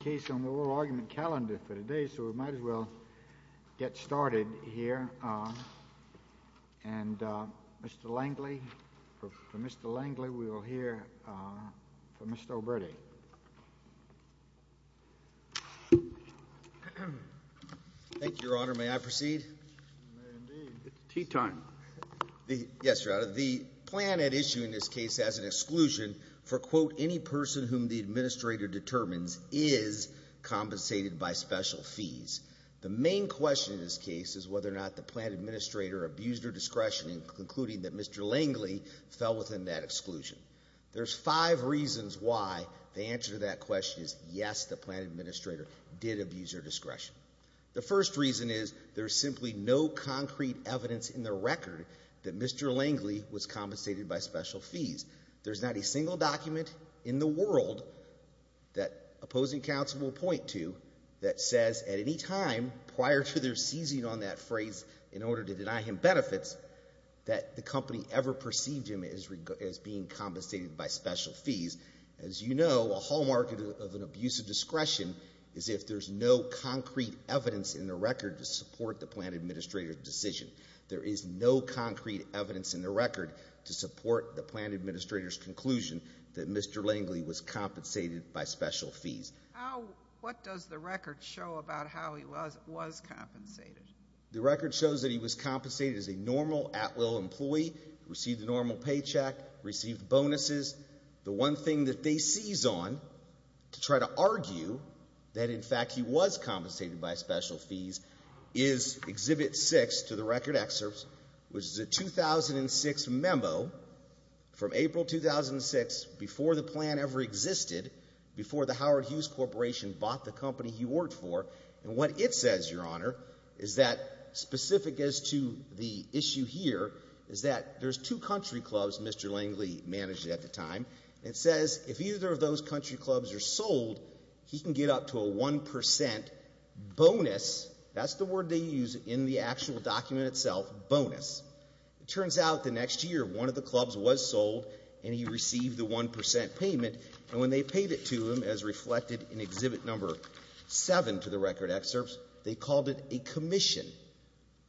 The case on the oral argument calendar for today, so we might as well get started here. And Mr. Langley, for Mr. Langley, we will hear from Mr. O'Briddy. Thank you, Your Honor. May I proceed? You may indeed. It's tea time. Yes, Your Honor. The plan at issue in this case as an exclusion for, quote, any person whom the administrator determines is compensated by special fees. The main question in this case is whether or not the plan administrator abused her discretion in concluding that Mr. Langley fell within that exclusion. There's five reasons why the answer to that question is yes, the plan administrator did abuse her discretion. The first reason is there's simply no concrete evidence in the record that Mr. Langley was compensated by special fees. There's not a single document in the world that opposing counsel will point to that says at any time prior to their seizing on that phrase in order to deny him benefits that the company ever perceived him as being compensated by special fees. As you know, a hallmark of an abusive discretion is if there's no concrete evidence in the record to support the plan administrator's decision. There is no concrete evidence in the record to support the plan administrator's conclusion that Mr. Langley was compensated by special fees. What does the record show about how he was compensated? The record shows that he was compensated as a normal at-will employee, received a normal paycheck, received bonuses. The one thing that they seize on to try to argue that in fact he was compensated by special fees is Exhibit 6 to the record excerpts, which is a 2006 memo from April 2006 before the plan ever existed, before the Howard Hughes Corporation bought the company he worked for. What it says, Your Honor, is that, specific as to the issue here, is that there's two country clubs Mr. Langley managed at the time. It says if either of those country clubs are sold, he can get up to a 1% bonus, that's the word they use in the actual document itself, bonus. It turns out the next year one of the clubs was sold and he received the 1% payment, and when they paid it to him, as reflected in Exhibit 7 to the record excerpts, they called it a commission.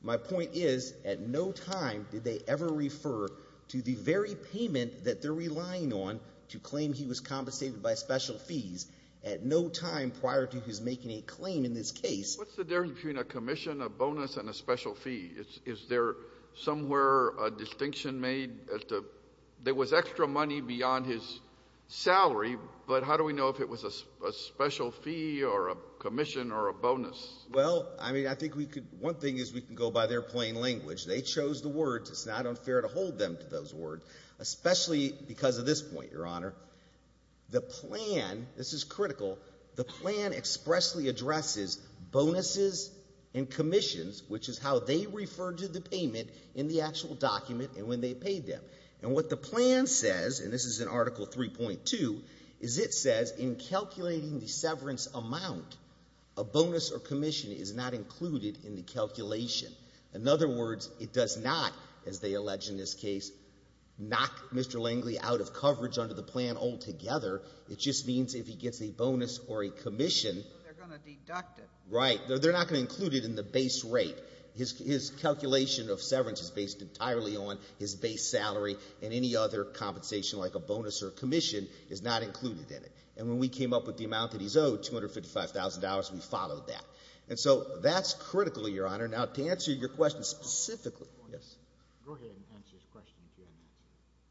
My point is, at no time did they ever refer to the very payment that they're relying on to claim he was compensated by special fees, at no time prior to his making a claim in this case. What's the difference between a commission, a bonus, and a special fee? Is there somewhere a distinction made as to, there was extra money beyond his salary, but how do we know if it was a special fee or a commission or a bonus? Well, I mean, I think we could, one thing is we can go by their plain language. They chose the words, it's not unfair to hold them to those words, especially because of this point, Your Honor. The plan, this is critical, the plan expressly addresses bonuses and commissions, which is how they refer to the payment in the actual document and when they paid them. And what the plan says, and this is in Article 3.2, is it says, in calculating the severance amount, a bonus or commission is not included in the calculation. In other words, it does not, as they allege in this case, knock Mr. Langley out of coverage under the plan altogether. It just means if he gets a bonus or a commission. They're going to deduct it. Right. They're not going to include it in the base rate. His calculation of severance is based entirely on his base salary and any other compensation like a bonus or commission is not included in it. And when we came up with the amount that he's owed, $255,000, we followed that. And so that's critical, Your Honor. Now, to answer your question specifically, go ahead and answer his question if you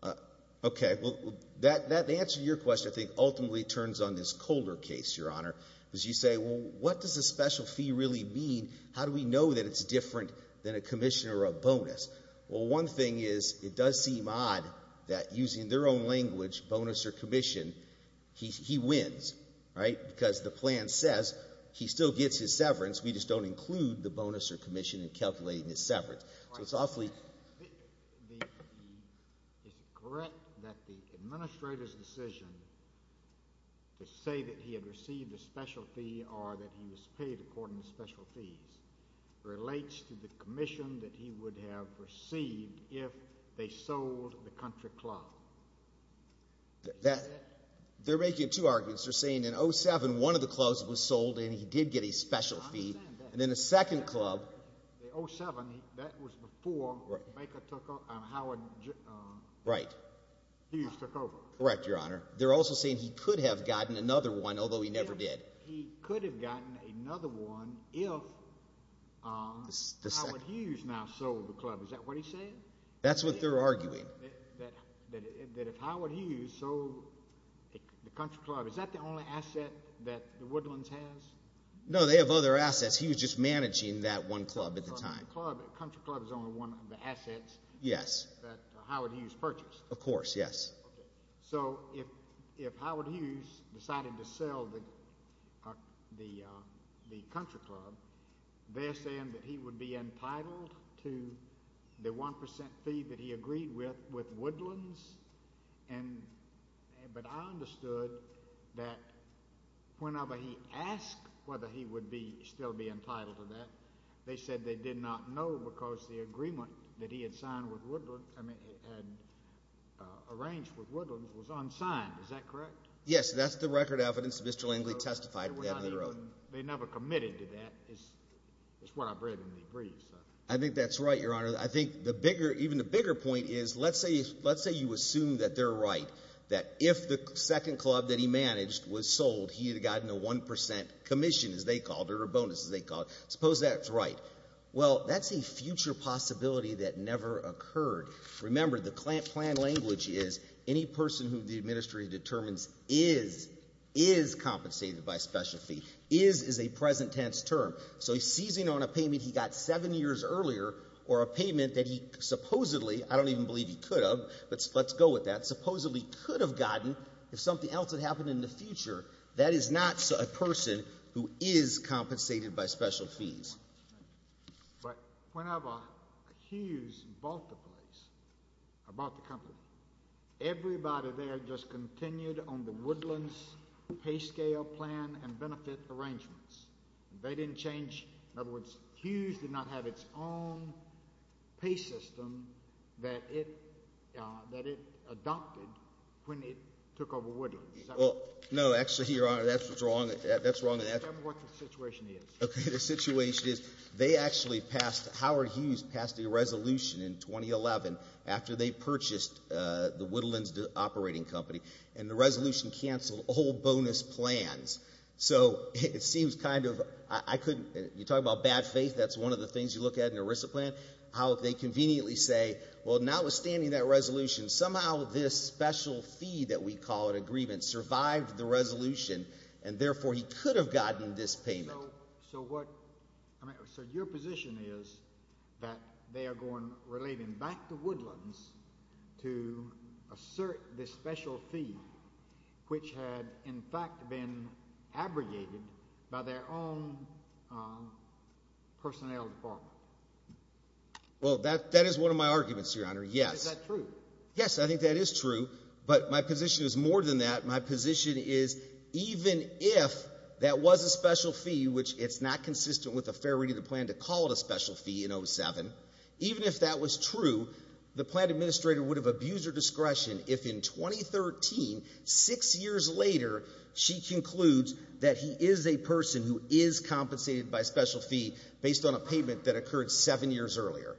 haven't answered it. Okay. Well, the answer to your question, I think, ultimately turns on this Colder case, Your Honor. Because you say, well, what does a special fee really mean? How do we know that it's different than a commission or a bonus? Well, one thing is, it does seem odd that using their own language, bonus or commission, he wins. Right? Because the plan says he still gets his severance, we just don't include the bonus or commission in calculating his severance. So it's awfully... Right. Is it correct that the administrator's decision to say that he had received a special fee or that he was paid according to special fees relates to the commission that he would have received if they sold the country club? They're making two arguments. They're saying in 07, one of the clubs was sold and he did get a special fee. I'm saying that. And then the second club... In 07, that was before Baker took over and Howard Hughes took over. Correct, Your Honor. They're also saying he could have gotten another one, although he never did. He could have gotten another one if Howard Hughes now sold the club. Is that what he's saying? That's what they're arguing. That if Howard Hughes sold the country club, is that the only asset that the Woodlands has? No, they have other assets. He was just managing that one club at the time. The country club is only one of the assets that Howard Hughes purchased. Of course, yes. So if Howard Hughes decided to sell the country club, they're saying that he would be entitled to the 1% fee that he agreed with, with Woodlands? But I understood that whenever he asked whether he would still be entitled to that, they said they did not know because the agreement that he had signed with Woodlands, I mean had arranged with Woodlands, was unsigned. Is that correct? Yes. That's the record evidence that Mr. Langley testified to that later on. They never committed to that, is what I've read in the briefs. I think that's right, Your Honor. I think even the bigger point is, let's say you assume that they're right, that if the second club that he managed was sold, he would have gotten a 1% commission, as they called it, or a bonus, as they called it. Suppose that's right. Well, that's a future possibility that never occurred. Remember, the plan language is, any person who the administry determines is, is compensated by a special fee. Is is a present tense term. So he's seizing on a payment he got seven years earlier, or a payment that he supposedly, I don't even believe he could have, but let's go with that, supposedly could have gotten if something else had happened in the future. That is not a person who is compensated by special fees. But whenever Hughes bought the place, or bought the company, everybody there just continued on the Woodlands pay scale plan and benefit arrangements. They didn't change, in other words, Hughes did not have its own pay system that it, that it adopted when it took over Woodlands. Well, no, actually, Your Honor, that's wrong. That's wrong. Tell me what the situation is. Okay. The situation is, they actually passed, Howard Hughes passed a resolution in 2011, after they purchased the Woodlands operating company, and the resolution canceled all bonus plans. So it seems kind of, I couldn't, you talk about bad faith, that's one of the things you look at in an ERISA plan, how they conveniently say, well, notwithstanding that resolution, somehow this special fee that we call an agreement survived the resolution, and therefore he could have gotten this payment. So what, I mean, so your position is that they are going, relating back to Woodlands to assert this special fee, which had, in fact, been abrogated by their own personnel department? Well, that, that is one of my arguments, Your Honor, yes. Is that true? Yes, I think that is true, but my position is more than that. My position is, even if that was a special fee, which it's not consistent with a fair reading of the plan to call it a special fee in 07, even if that was true, the plan administrator would have abused her discretion if in 2013, six years later, she concludes that he is a person who is compensated by a special fee based on a payment that occurred seven years earlier.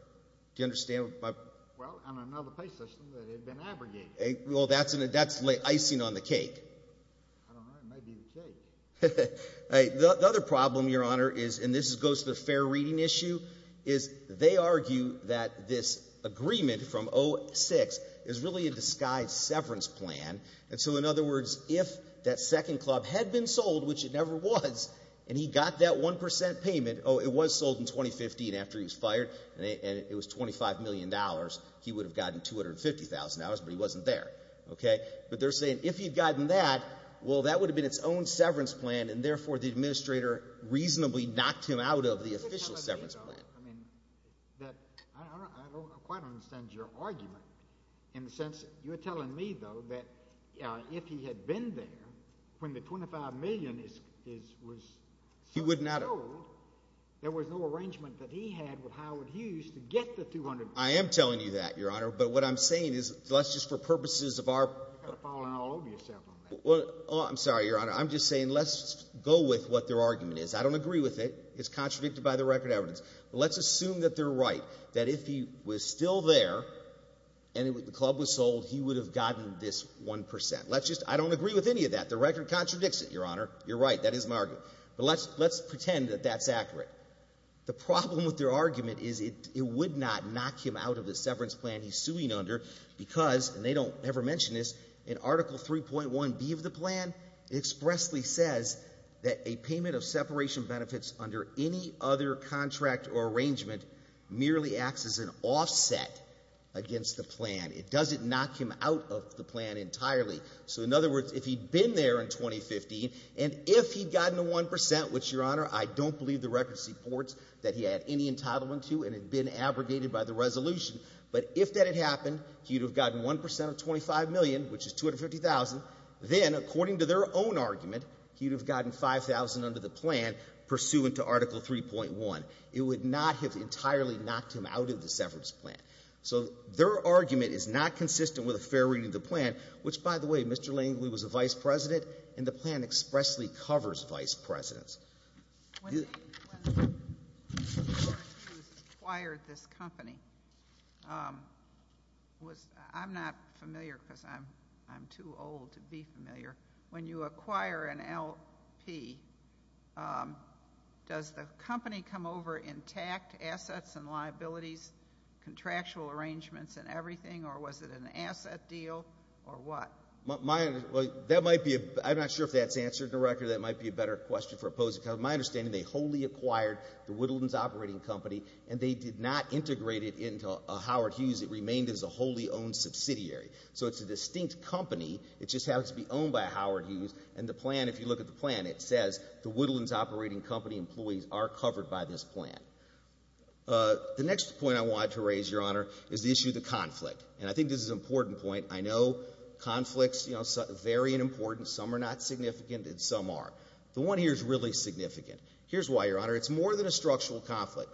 Do you understand? Well, and another pay system that had been abrogated. Well, that's, that's icing on the cake. I don't know, it might be the cake. The other problem, Your Honor, is, and this goes to the fair reading issue, is they argue that this agreement from 06 is really a disguised severance plan, and so in other words, if that second club had been sold, which it never was, and he got that 1% payment, oh, it was sold in 2015 after he was fired, and it was $25 million, he would have gotten $250,000, but he wasn't there, okay? But they're saying, if he'd gotten that, well, that would have been its own severance plan, and therefore, the administrator reasonably knocked him out of the official severance plan. I mean, that, I don't, I don't, I quite understand your argument, in the sense, you're telling me, though, that, uh, if he had been there, when the $25 million is, is, was sold, there was no arrangement that he had with Howard Hughes to get the $250,000. I am telling you that, Your Honor, but what I'm saying is, let's just, for purposes of You're kind of falling all over yourself on that. Well, I'm sorry, Your Honor, I'm just saying, let's go with what their argument is. I don't agree with it, it's contradicted by the record evidence, but let's assume that they're right, that if he was still there, and the club was sold, he would have gotten this 1%. Let's just, I don't agree with any of that. The record contradicts it, Your Honor, you're right, that is my argument, but let's, let's pretend that that's accurate. The problem with their argument is it, it would not knock him out of the severance plan that he's suing under, because, and they don't ever mention this, in Article 3.1B of the plan, it expressly says that a payment of separation benefits under any other contract or arrangement merely acts as an offset against the plan. It doesn't knock him out of the plan entirely. So in other words, if he'd been there in 2015, and if he'd gotten the 1%, which, Your Honor, I don't believe the record supports that he had any entitlement to, and had been abrogated by the resolution, but if that had happened, he would have gotten 1% of $25 million, which is $250,000. Then, according to their own argument, he would have gotten $5,000 under the plan pursuant to Article 3.1. It would not have entirely knocked him out of the severance plan. So their argument is not consistent with a fair reading of the plan, which, by the way, Mr. Langley was a vice president, and the plan expressly covers vice presidents. When the court acquires this company, I'm not familiar because I'm too old to be familiar. When you acquire an LP, does the company come over intact, assets and liabilities, contractual arrangements and everything, or was it an asset deal, or what? That might be, I'm not sure if that's answered in the record. That might be a better question for opposing, because my understanding, they wholly acquired the Woodlands Operating Company, and they did not integrate it into Howard Hughes. It remained as a wholly owned subsidiary. So it's a distinct company. It just happens to be owned by Howard Hughes, and the plan, if you look at the plan, it says the Woodlands Operating Company employees are covered by this plan. The next point I wanted to raise, Your Honor, is the issue of the conflict, and I think this is an important point. I know conflicts vary in importance. Some are not significant, and some are. The one here is really significant. Here's why, Your Honor. It's more than a structural conflict.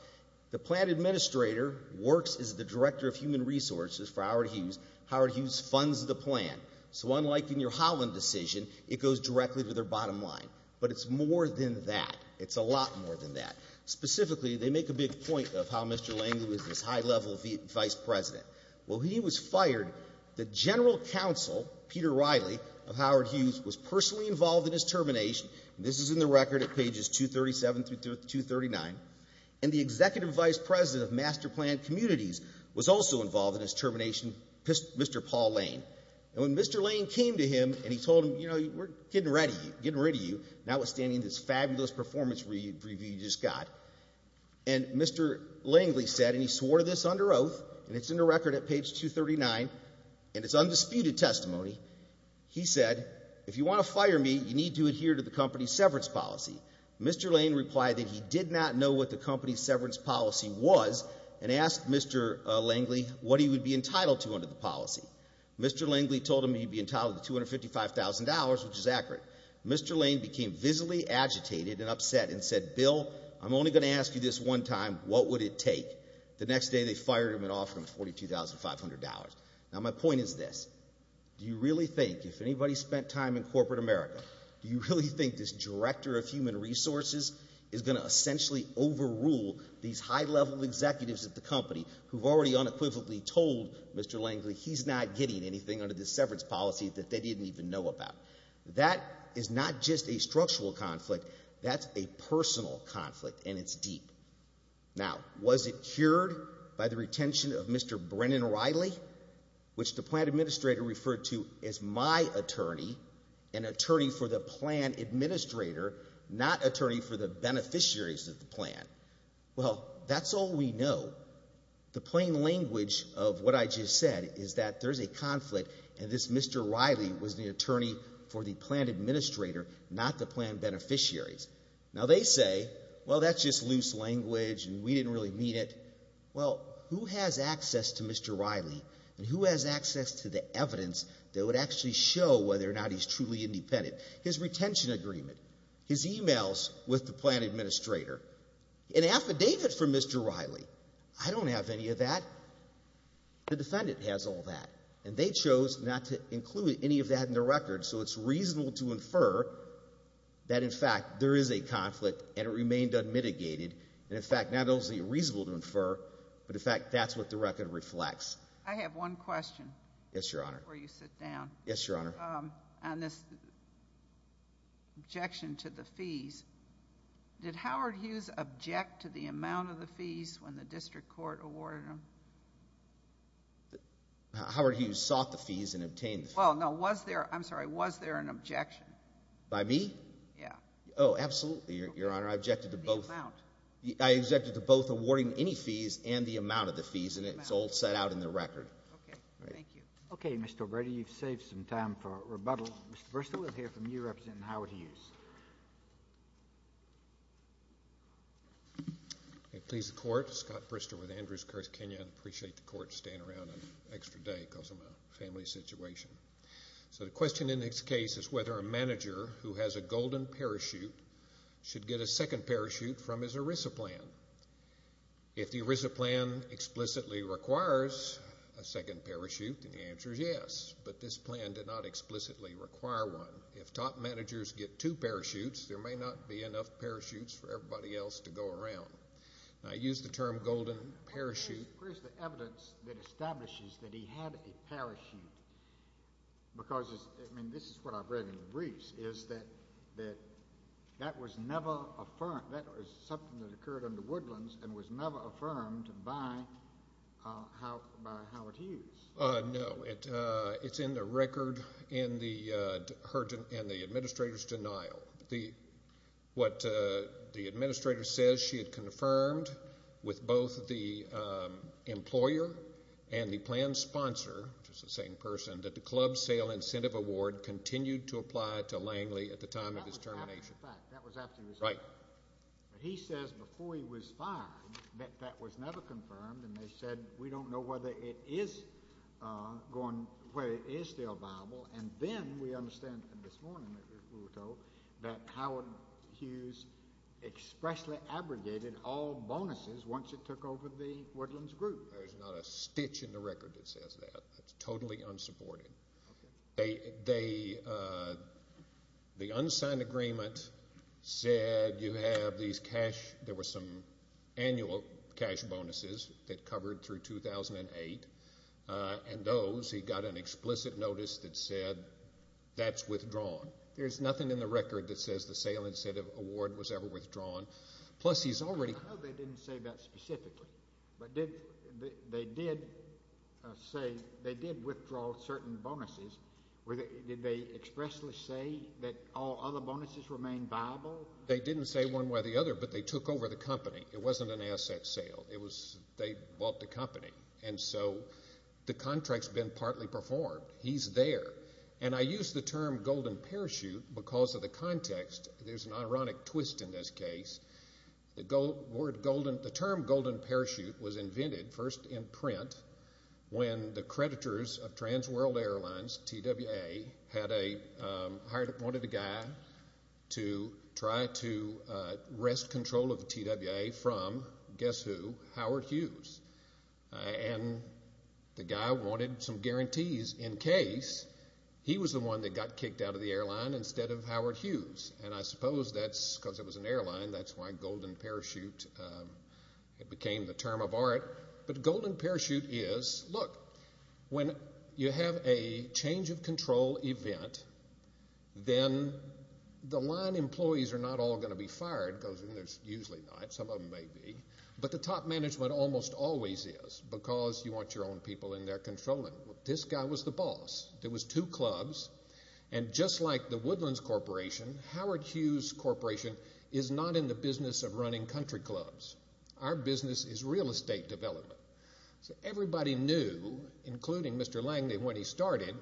The plan administrator works as the director of human resources for Howard Hughes. Howard Hughes funds the plan. So unlike in your Holland decision, it goes directly to their bottom line. But it's more than that. It's a lot more than that. Specifically, they make a big point of how Mr. Langley was this high-level vice president. Well, he was fired. The general counsel, Peter Riley, of Howard Hughes, was personally involved in his termination. This is in the record at pages 237 through 239. And the executive vice president of Master Plan Communities was also involved in his termination, Mr. Paul Lane. And when Mr. Lane came to him and he told him, you know, we're getting rid of you, not withstanding this fabulous performance review you just got. And Mr. Langley said, and he swore this under oath, and it's in the record at page 239, and it's undisputed testimony. He said, if you want to fire me, you need to adhere to the company's severance policy. Mr. Lane replied that he did not know what the company's severance policy was and asked Mr. Langley what he would be entitled to under the policy. Mr. Langley told him he'd be entitled to $255,000, which is accurate. Mr. Lane became visibly agitated and upset and said, Bill, I'm only going to ask you this one time, what would it take? The next day they fired him and offered him $42,500. Now my point is this, do you really think, if anybody spent time in corporate America, do you really think this director of human resources is going to essentially overrule these high-level executives at the company who've already unequivocally told Mr. Langley he's not getting anything under this severance policy that they didn't even know about? That is not just a structural conflict, that's a personal conflict and it's deep. Now was it cured by the retention of Mr. Brennan Riley, which the plan administrator referred to as my attorney, an attorney for the plan administrator, not attorney for the beneficiaries of the plan? Well that's all we know. The plain language of what I just said is that there's a conflict and this Mr. Riley was the attorney for the plan administrator, not the plan beneficiaries. Now they say, well that's just loose language and we didn't really mean it. Well who has access to Mr. Riley and who has access to the evidence that would actually show whether or not he's truly independent? His retention agreement, his emails with the plan administrator, an affidavit from Mr. Riley. I don't have any of that. The defendant has all that and they chose not to include any of that in the record so it's reasonable to infer that in fact there is a conflict and it remained unmitigated and in fact not only is it reasonable to infer, but in fact that's what the record reflects. I have one question. Yes, Your Honor. Before you sit down. Yes, Your Honor. On this objection to the fees, did Howard Hughes object to the amount of the fees when the district court awarded them? Howard Hughes sought the fees and obtained the fees. Well, no. Was there, I'm sorry, was there an objection? By me? Yeah. Oh, absolutely, Your Honor. I objected to both. The amount. I objected to both awarding any fees and the amount of the fees and it's all set out in the record. Okay. Thank you. Okay, Mr. Obrado. You've saved some time for rebuttal. First we'll hear from you, Representative Howard Hughes. Please, the court. Scott Brister with Andrews-Kirsch, Kenya. I appreciate the court staying around an extra day because of my family situation. So the question in this case is whether a manager who has a golden parachute should get a second parachute from his ERISA plan. If the ERISA plan explicitly requires a second parachute, then the answer is yes, but this plan did not explicitly require one. If top managers get two parachutes, there may not be enough parachutes for everybody else to go around. I use the term golden parachute. Where's the evidence that establishes that he had a parachute? Because, I mean, this is what I've read in the briefs, is that that was never affirmed. That was something that occurred under Woodlands and was never affirmed by Howard Hughes. No. It's in the record in the administrator's denial. What the administrator says she had confirmed with both the employer and the plan sponsor, which is the same person, that the club sale incentive award continued to apply to Langley at the time of his termination. That was after he was fired. Right. But he says before he was fired that that was never confirmed, and they said we don't know whether it is still viable, and then we understand this morning that we were told that Howard Hughes expressly abrogated all bonuses once it took over the Woodlands group. There's not a stitch in the record that says that. That's totally unsupported. The unsigned agreement said you have these cash, there were some annual cash bonuses that covered through 2008, and those he got an explicit notice that said that's withdrawn. There's nothing in the record that says the sale incentive award was ever withdrawn. Plus, he's already. I know they didn't say that specifically, but they did say they did withdraw certain bonuses. Did they expressly say that all other bonuses remained viable? They didn't say one way or the other, but they took over the company. It wasn't an asset sale. They bought the company. And so the contract's been partly performed. He's there. And I use the term golden parachute because of the context. There's an ironic twist in this case. The term golden parachute was invented first in print when the creditors of Trans World Airlines, TWA, wanted a guy to try to wrest control of TWA from, guess who, Howard Hughes. And the guy wanted some guarantees in case he was the one that got kicked out of the airline instead of Howard Hughes. And I suppose that's because it was an airline. That's why golden parachute became the term of art. But golden parachute is, look, when you have a change of control event, then the line employees are not all going to be fired because there's usually not. Some of them may be. But the top management almost always is because you want your own people in there controlling. This guy was the boss. There was two clubs. And just like the Woodlands Corporation, Howard Hughes Corporation is not in the business of running country clubs. Our business is real estate development. So everybody knew, including Mr. Langley when he started,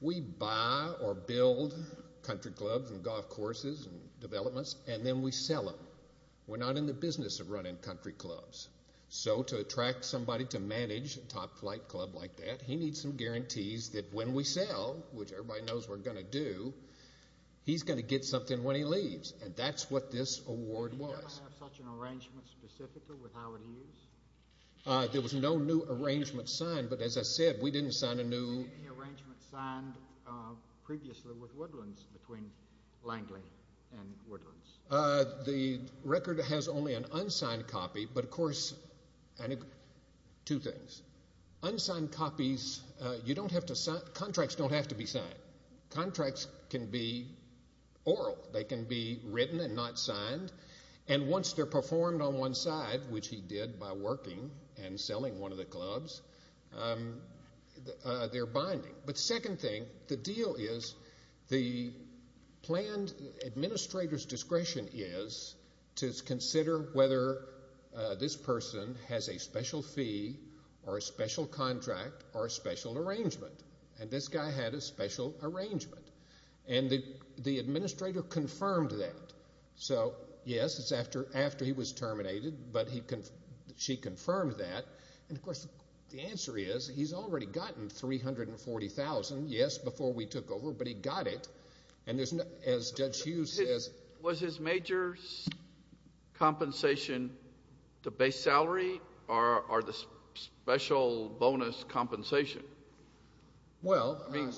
we buy or build country clubs and golf courses and developments, and then we sell them. We're not in the business of running country clubs. So to attract somebody to manage a top flight club like that, he needs some guarantees that when we sell, which everybody knows we're going to do, he's going to get something when he leaves. And that's what this award was. Did you have such an arrangement specifically with Howard Hughes? There was no new arrangement signed, but as I said, we didn't sign a new. Any arrangements signed previously with Woodlands between Langley and Woodlands? The record has only an unsigned copy, but, of course, two things. Unsigned copies, you don't have to sign. Contracts don't have to be signed. Contracts can be oral. They can be written and not signed. And once they're performed on one side, which he did by working and selling one of the clubs, they're binding. But second thing, the deal is the planned administrator's discretion is to consider whether this person has a special fee or a special contract or a special arrangement. And this guy had a special arrangement. And the administrator confirmed that. So, yes, it's after he was terminated, but she confirmed that. And, of course, the answer is he's already gotten $340,000, yes, before we took over, but he got it. And as Judge Hughes says. Was his major compensation the base salary or the special bonus compensation? Well, I mean.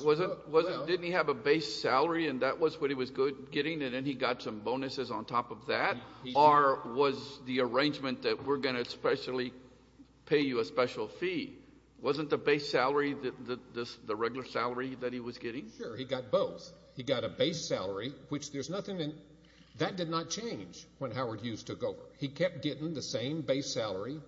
Didn't he have a base salary, and that was what he was getting, and then he got some bonuses on top of that? Or was the arrangement that we're going to especially pay you a special fee, wasn't the base salary the regular salary that he was getting? Sure, he got both. He got a base salary, which there's nothing in. That did not change when Howard Hughes took over. He kept getting the same base salary.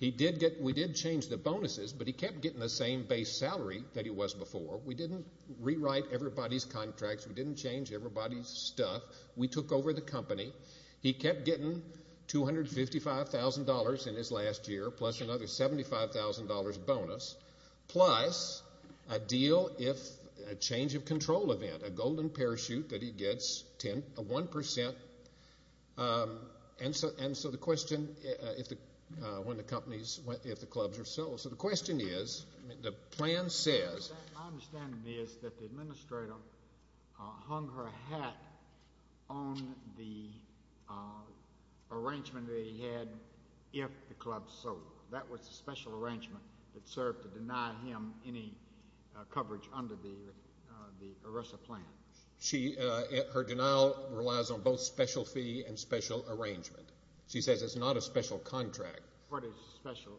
We did change the bonuses, but he kept getting the same base salary that he was before. We didn't rewrite everybody's contracts. We didn't change everybody's stuff. We took over the company. He kept getting $255,000 in his last year, plus another $75,000 bonus, plus a deal if a change of control event, a golden parachute that he gets a one percent. And so the question, if the clubs are sold. So the question is, the plan says. My understanding is that the administrator hung her hat on the arrangement that he had if the clubs sold. That was a special arrangement that served to deny him any coverage under the ERISA plan. Her denial relies on both special fee and special arrangement. She says it's not a special contract. What is special?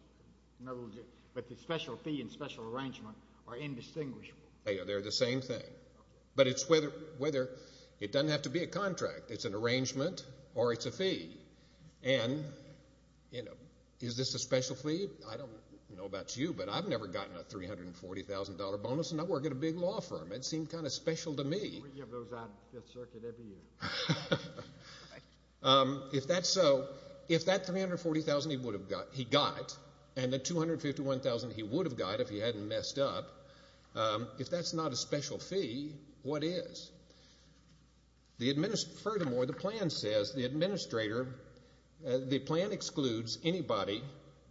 But the special fee and special arrangement are indistinguishable. They're the same thing. But it's whether it doesn't have to be a contract. It's an arrangement or it's a fee. And is this a special fee? I don't know about you, but I've never gotten a $340,000 bonus, and I work at a big law firm. It seemed kind of special to me. We give those out at Fifth Circuit every year. If that's so, if that $340,000 he got and the $251,000 he would have got if he hadn't messed up, if that's not a special fee, what is? Furthermore, the plan says the administrator, the plan excludes anybody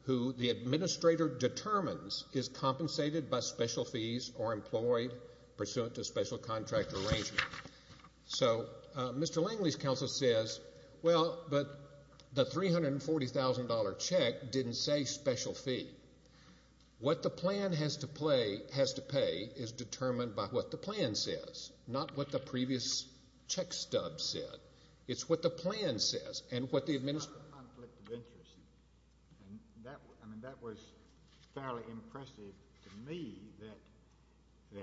who the administrator determines is compensated by special fees or employed pursuant to special contract arrangement. So Mr. Langley's counsel says, well, but the $340,000 check didn't say special fee. What the plan has to pay is determined by what the plan says, not what the previous check stub said. It's what the plan says and what the administrator says. And that was fairly impressive to me that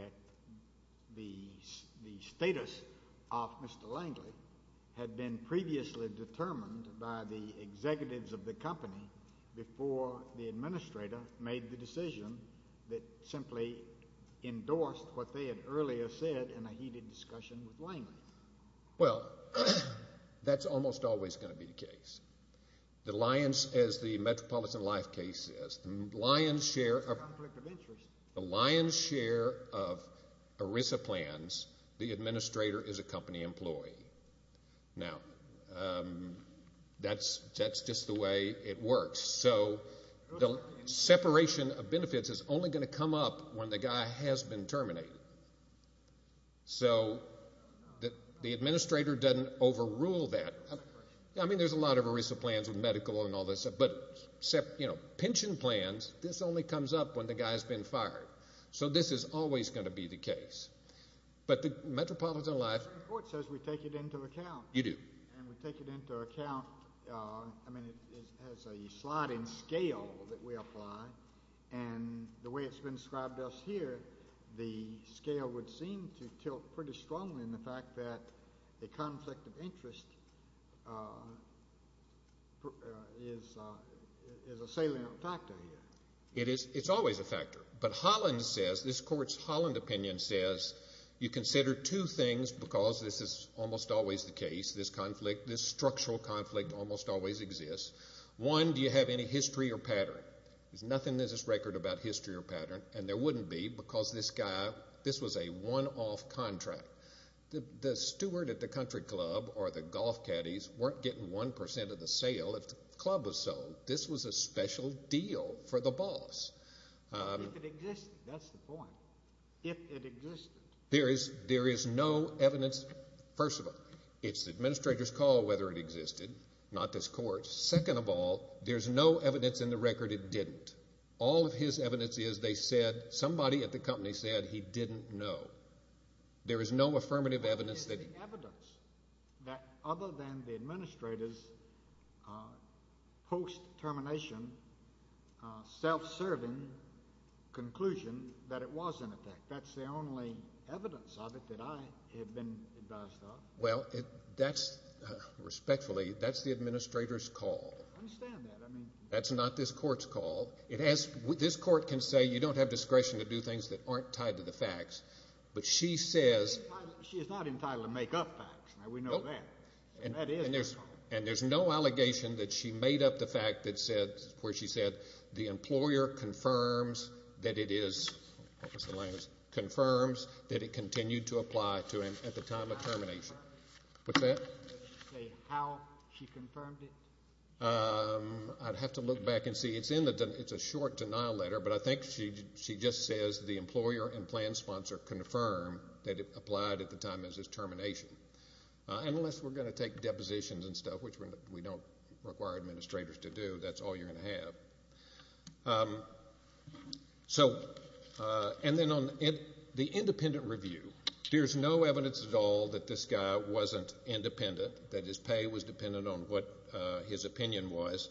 the status of Mr. Langley had been previously determined by the executives of the company before the administrator made the decision that simply endorsed what they had earlier said in a heated discussion with Langley. Well, that's almost always going to be the case. The lion's, as the Metropolitan Life case says, the lion's share of ERISA plans, the administrator is a company employee. Now, that's just the way it works. So the separation of benefits is only going to come up when the guy has been terminated. So the administrator doesn't overrule that. I mean, there's a lot of ERISA plans with medical and all this stuff, but pension plans, this only comes up when the guy has been fired. So this is always going to be the case. But the Metropolitan Life report says we take it into account. You do. And we take it into account. I mean, it has a sliding scale that we apply. And the way it's been described to us here, the scale would seem to tilt pretty strongly in the fact that a conflict of interest is a salient factor here. It's always a factor. But Holland says, this court's Holland opinion says, you consider two things because this is almost always the case, this conflict, this structural conflict almost always exists. One, do you have any history or pattern? There's nothing in this record about history or pattern, and there wouldn't be because this guy, this was a one-off contract. The steward at the country club or the golf caddies weren't getting one percent of the sale if the club was sold. This was a special deal for the boss. If it existed, that's the point. If it existed. There is no evidence. First of all, it's the administrator's call whether it existed, not this court. Second of all, there's no evidence in the record it didn't. All of his evidence is they said somebody at the company said he didn't know. There is no affirmative evidence that he didn't know. There is evidence that other than the administrator's post-termination, self-serving conclusion that it was in effect. That's the only evidence of it that I have been advised of. Well, that's, respectfully, that's the administrator's call. I understand that. That's not this court's call. This court can say you don't have discretion to do things that aren't tied to the facts, but she says. She is not entitled to make up facts. We know that. And there's no allegation that she made up the fact that said, where she said, the employer confirms that it is, what was the language, confirms that it continued to apply to him at the time of termination. What's that? She said how she confirmed it. I'd have to look back and see. It's a short denial letter, but I think she just says the employer and plan sponsor confirmed that it applied at the time of his termination. Unless we're going to take depositions and stuff, which we don't require administrators to do, that's all you're going to have. And then on the independent review, there's no evidence at all that this guy wasn't independent, that his pay was dependent on what his opinion was.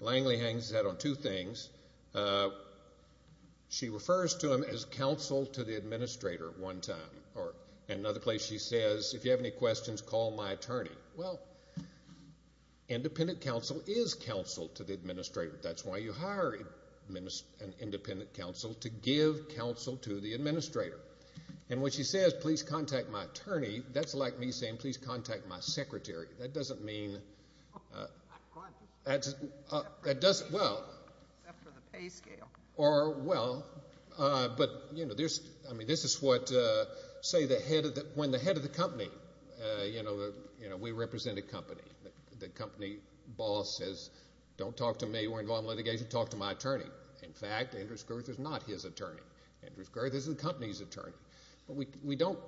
Langley hangs that on two things. She refers to him as counsel to the administrator one time. In another place she says, if you have any questions, call my attorney. Well, independent counsel is counsel to the administrator. That's why you hire an independent counsel, to give counsel to the administrator. And when she says, please contact my attorney, that's like me saying, please contact my secretary. That doesn't mean, well, or well, but, you know, this is what, say, when the head of the company, you know, we represent a company. The company boss says, don't talk to me. We're involved in litigation. Talk to my attorney. In fact, Andrews-Girth is not his attorney. Andrews-Girth is the company's attorney. But we don't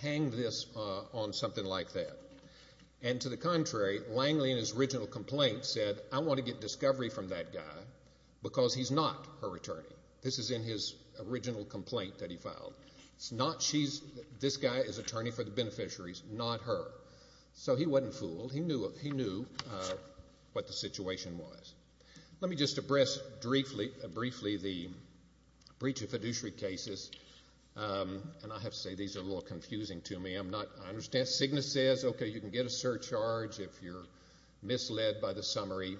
hang this on something like that. And to the contrary, Langley in his original complaint said, I want to get discovery from that guy because he's not her attorney. This is in his original complaint that he filed. It's not she's, this guy is attorney for the beneficiaries, not her. So he wasn't fooled. He knew what the situation was. Let me just address briefly the breach of fiduciary cases. And I have to say, these are a little confusing to me. I'm not, I understand. Cigna says, okay, you can get a surcharge if you're misled by the summary,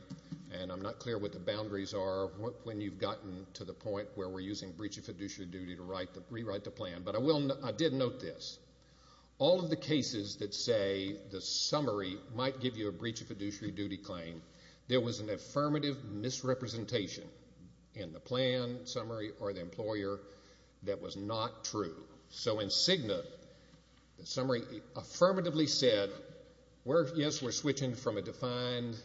and I'm not clear what the boundaries are when you've gotten to the point where we're using breach of fiduciary duty to rewrite the plan. But I did note this. All of the cases that say the summary might give you a breach of fiduciary duty claim, there was an affirmative misrepresentation in the plan summary or the employer that was not true. So in Cigna, the summary affirmatively said, yes, we're switching from a defined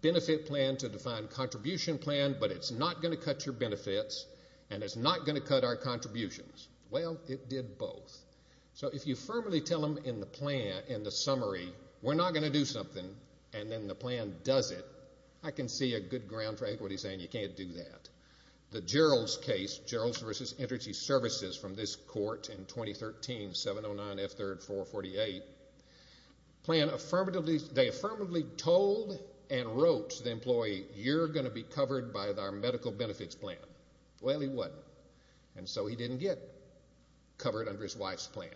benefit plan to a defined contribution plan, but it's not going to cut your benefits and it's not going to cut our contributions. Well, it did both. So if you firmly tell them in the plan, in the summary, we're not going to do something, and then the plan does it, I can see a good ground for everybody saying you can't do that. The Geralds case, Geralds v. Energy Services, from this court in 2013, 709F3R48, they affirmatively told and wrote to the employee, you're going to be covered by our medical benefits plan. Well, he wasn't, and so he didn't get covered under his wife's plan.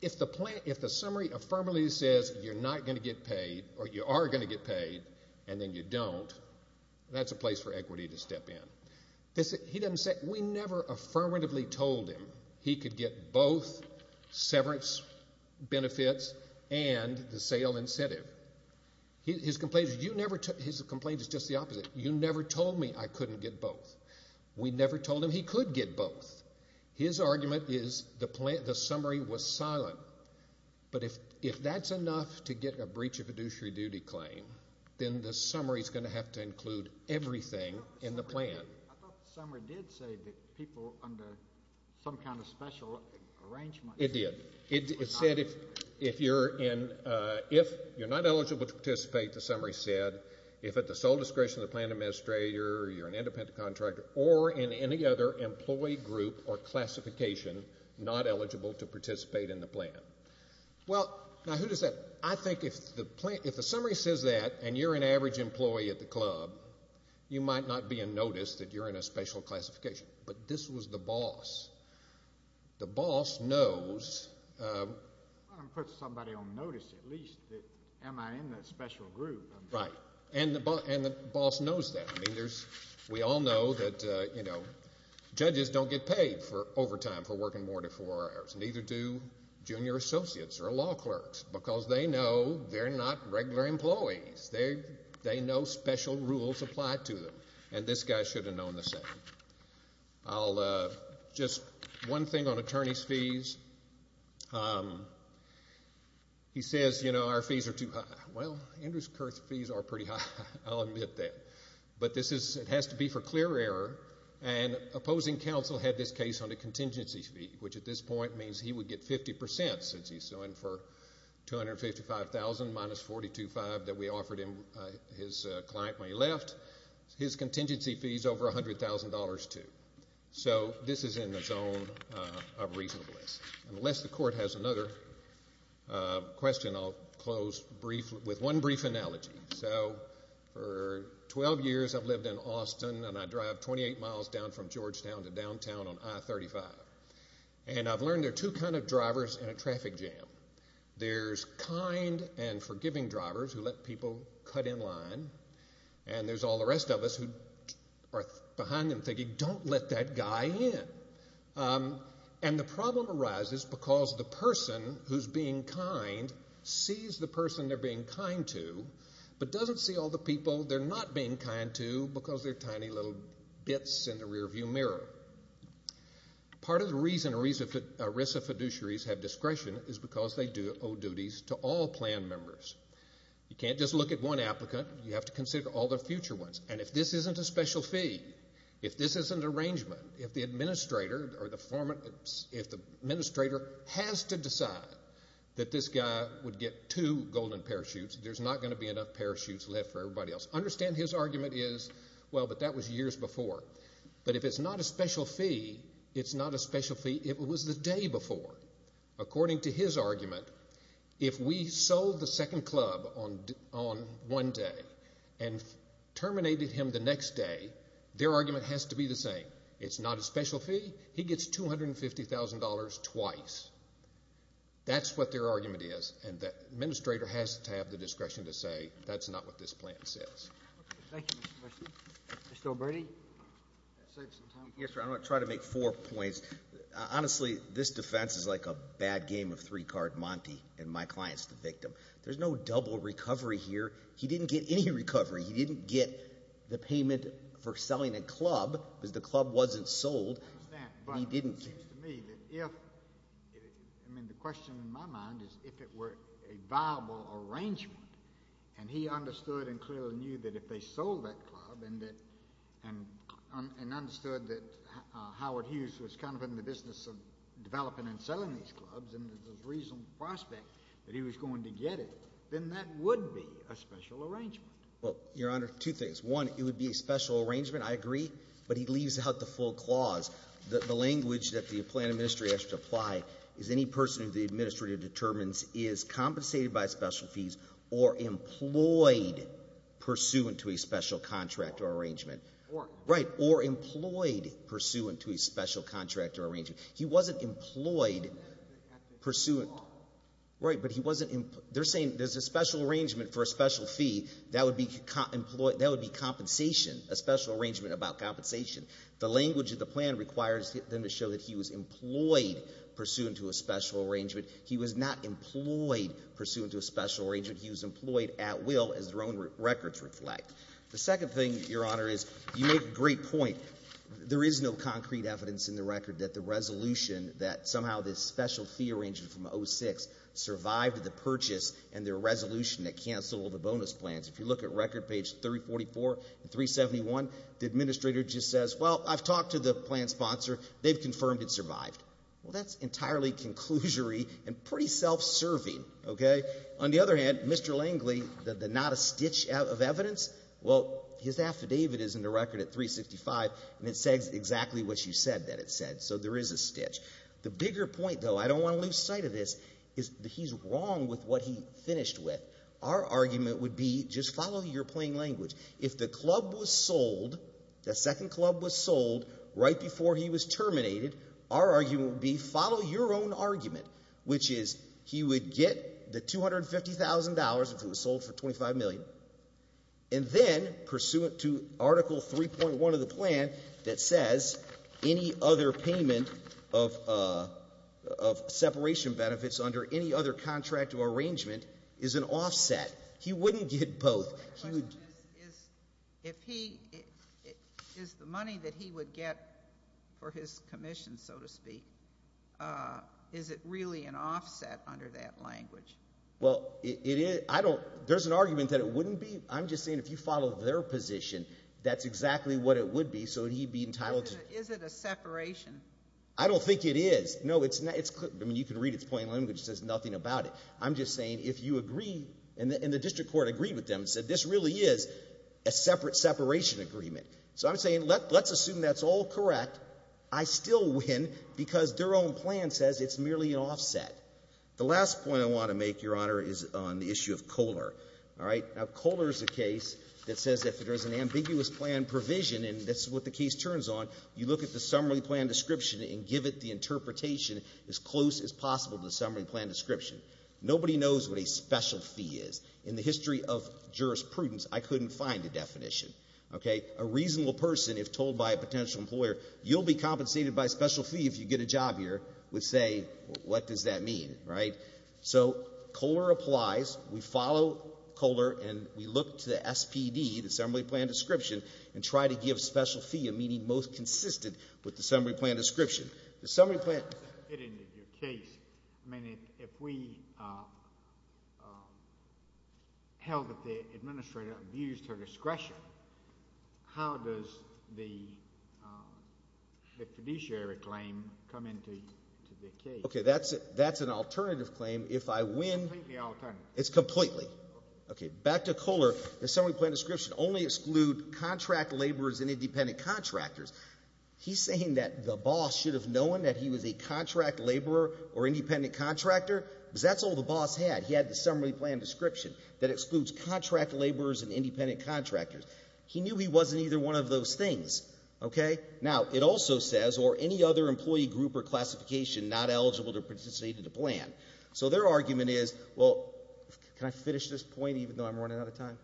If the summary affirmatively says you're not going to get paid or you are going to get paid and then you don't, that's a place for equity to step in. We never affirmatively told him he could get both severance benefits and the sale incentive. His complaint is just the opposite. You never told me I couldn't get both. We never told him he could get both. His argument is the summary was silent. But if that's enough to get a breach of fiduciary duty claim, then the summary is going to have to include everything in the plan. I thought the summary did say that people under some kind of special arrangement. It did. It said if you're not eligible to participate, the summary said, if at the sole discretion of the plan administrator or you're an independent contractor or in any other employee group or classification not eligible to participate in the plan. Well, now who does that? I think if the summary says that and you're an average employee at the club, you might not be in notice that you're in a special classification. But this was the boss. The boss knows. I'm going to put somebody on notice at least that am I in the special group. Right. And the boss knows that. I mean, we all know that judges don't get paid for overtime for working more than four hours. Neither do junior associates or law clerks because they know they're not regular employees. They know special rules apply to them. And this guy should have known the same. Just one thing on attorney's fees. He says, you know, our fees are too high. Well, Andrews-Kirk's fees are pretty high. I'll admit that. But it has to be for clear error. And opposing counsel had this case on a contingency fee, which at this point means he would get 50% since he's suing for $255,000 minus $42,500 that we offered him his client when he left. His contingency fee is over $100,000 too. So this is in the zone of reasonableness. Unless the court has another question, I'll close with one brief analogy. So for 12 years I've lived in Austin, and I drive 28 miles down from Georgetown to downtown on I-35. And I've learned there are two kinds of drivers in a traffic jam. There's kind and forgiving drivers who let people cut in line, and there's all the rest of us who are behind them thinking, don't let that guy in. And the problem arises because the person who's being kind sees the person they're being kind to but doesn't see all the people they're not being kind to because they're tiny little bits in the rearview mirror. Part of the reason ERISA fiduciaries have discretion is because they owe duties to all plan members. You can't just look at one applicant. You have to consider all the future ones. And if this isn't a special fee, if this isn't an arrangement, if the administrator has to decide that this guy would get two golden parachutes, there's not going to be enough parachutes left for everybody else. Understand his argument is, well, but that was years before. But if it's not a special fee, it's not a special fee. It was the day before. According to his argument, if we sold the second club on one day and terminated him the next day, their argument has to be the same. It's not a special fee. He gets $250,000 twice. That's what their argument is, and the administrator has to have the discretion to say, that's not what this plan says. Thank you, Mr. Mercer. Mr. O'Brady? Yes, sir. I'm going to try to make four points. Honestly, this defense is like a bad game of three-card Monty, and my client's the victim. There's no double recovery here. He didn't get any recovery. He didn't get the payment for selling a club because the club wasn't sold. I understand. But it seems to me that if, I mean the question in my mind is if it were a viable arrangement, and he understood and clearly knew that if they sold that club and understood that Howard Hughes was kind of in the business of developing and selling these clubs and there's a reasonable prospect that he was going to get it, then that would be a special arrangement. Well, Your Honor, two things. One, it would be a special arrangement. I agree, but he leaves out the full clause. The language that the plan administrator has to apply is any person who the administrator determines is compensated by special fees or employed pursuant to a special contract or arrangement. Or. Right, or employed pursuant to a special contract or arrangement. He wasn't employed pursuant. Right, but he wasn't. They're saying there's a special arrangement for a special fee. That would be compensation, a special arrangement about compensation. The language of the plan requires them to show that he was employed pursuant to a special arrangement. He was not employed pursuant to a special arrangement. He was employed at will as their own records reflect. The second thing, Your Honor, is you make a great point. There is no concrete evidence in the record that the resolution that somehow this special fee arrangement from 06 survived the purchase and their resolution that canceled all the bonus plans. If you look at record page 344 and 371, the administrator just says, Well, I've talked to the plan sponsor. They've confirmed it survived. Well, that's entirely conclusory and pretty self-serving, okay? On the other hand, Mr. Langley, the not a stitch of evidence, well, his affidavit is in the record at 365, and it says exactly what you said that it said. So there is a stitch. The bigger point, though, I don't want to lose sight of this, is that he's wrong with what he finished with. Our argument would be just follow your plain language. If the club was sold, the second club was sold right before he was terminated, our argument would be follow your own argument, which is he would get the $250,000, if it was sold for $25 million, and then, pursuant to Article 3.1 of the plan that says any other payment of separation benefits under any other contract or arrangement is an offset. He wouldn't get both. My question is, is the money that he would get for his commission, so to speak, is it really an offset under that language? Well, it is. There's an argument that it wouldn't be. I'm just saying if you follow their position, that's exactly what it would be, so he'd be entitled to. Is it a separation? I don't think it is. No, it's not. I mean, you can read its plain language. It says nothing about it. I'm just saying if you agree, and the district court agreed with them and said this really is a separate separation agreement. So I'm saying let's assume that's all correct. I still win because their own plan says it's merely an offset. The last point I want to make, Your Honor, is on the issue of Kohler. Now, Kohler is a case that says if there is an ambiguous plan provision, and that's what the case turns on, you look at the summary plan description and give it the interpretation as close as possible to the summary plan description. Nobody knows what a special fee is. In the history of jurisprudence, I couldn't find a definition. A reasonable person, if told by a potential employer, you'll be compensated by a special fee if you get a job here, would say, what does that mean, right? So Kohler applies. We follow Kohler, and we look to the SPD, the summary plan description, and try to give special fee a meaning most consistent with the summary plan description. The summary plan It ended your case. I mean, if we held that the administrator abused her discretion, how does the fiduciary claim come into the case? Okay, that's an alternative claim. If I win Completely alternative. It's completely. Okay, back to Kohler. The summary plan description only excludes contract laborers and independent contractors. He's saying that the boss should have known that he was a contract laborer or independent contractor? Because that's all the boss had. He had the summary plan description that excludes contract laborers and independent contractors. He knew he wasn't either one of those things, okay? Now, it also says, or any other employee group or classification not eligible to participate in the plan. So their argument is, well, can I finish this point even though I'm running out of time?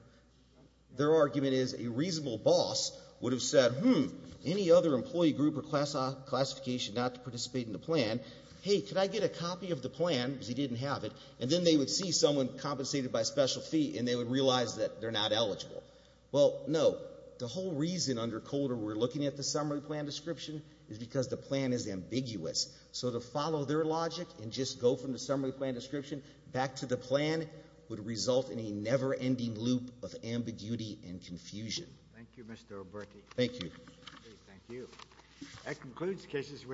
Their argument is a reasonable boss would have said, hmm, any other employee group or classification not to participate in the plan. Hey, could I get a copy of the plan? Because he didn't have it. And then they would see someone compensated by special fee, and they would realize that they're not eligible. Well, no. The whole reason under Kohler we're looking at the summary plan description is because the plan is ambiguous. So to follow their logic and just go from the summary plan description back to the plan would result in a never-ending loop of ambiguity and confusion. Thank you, Mr. O'Berke. Thank you. Thank you.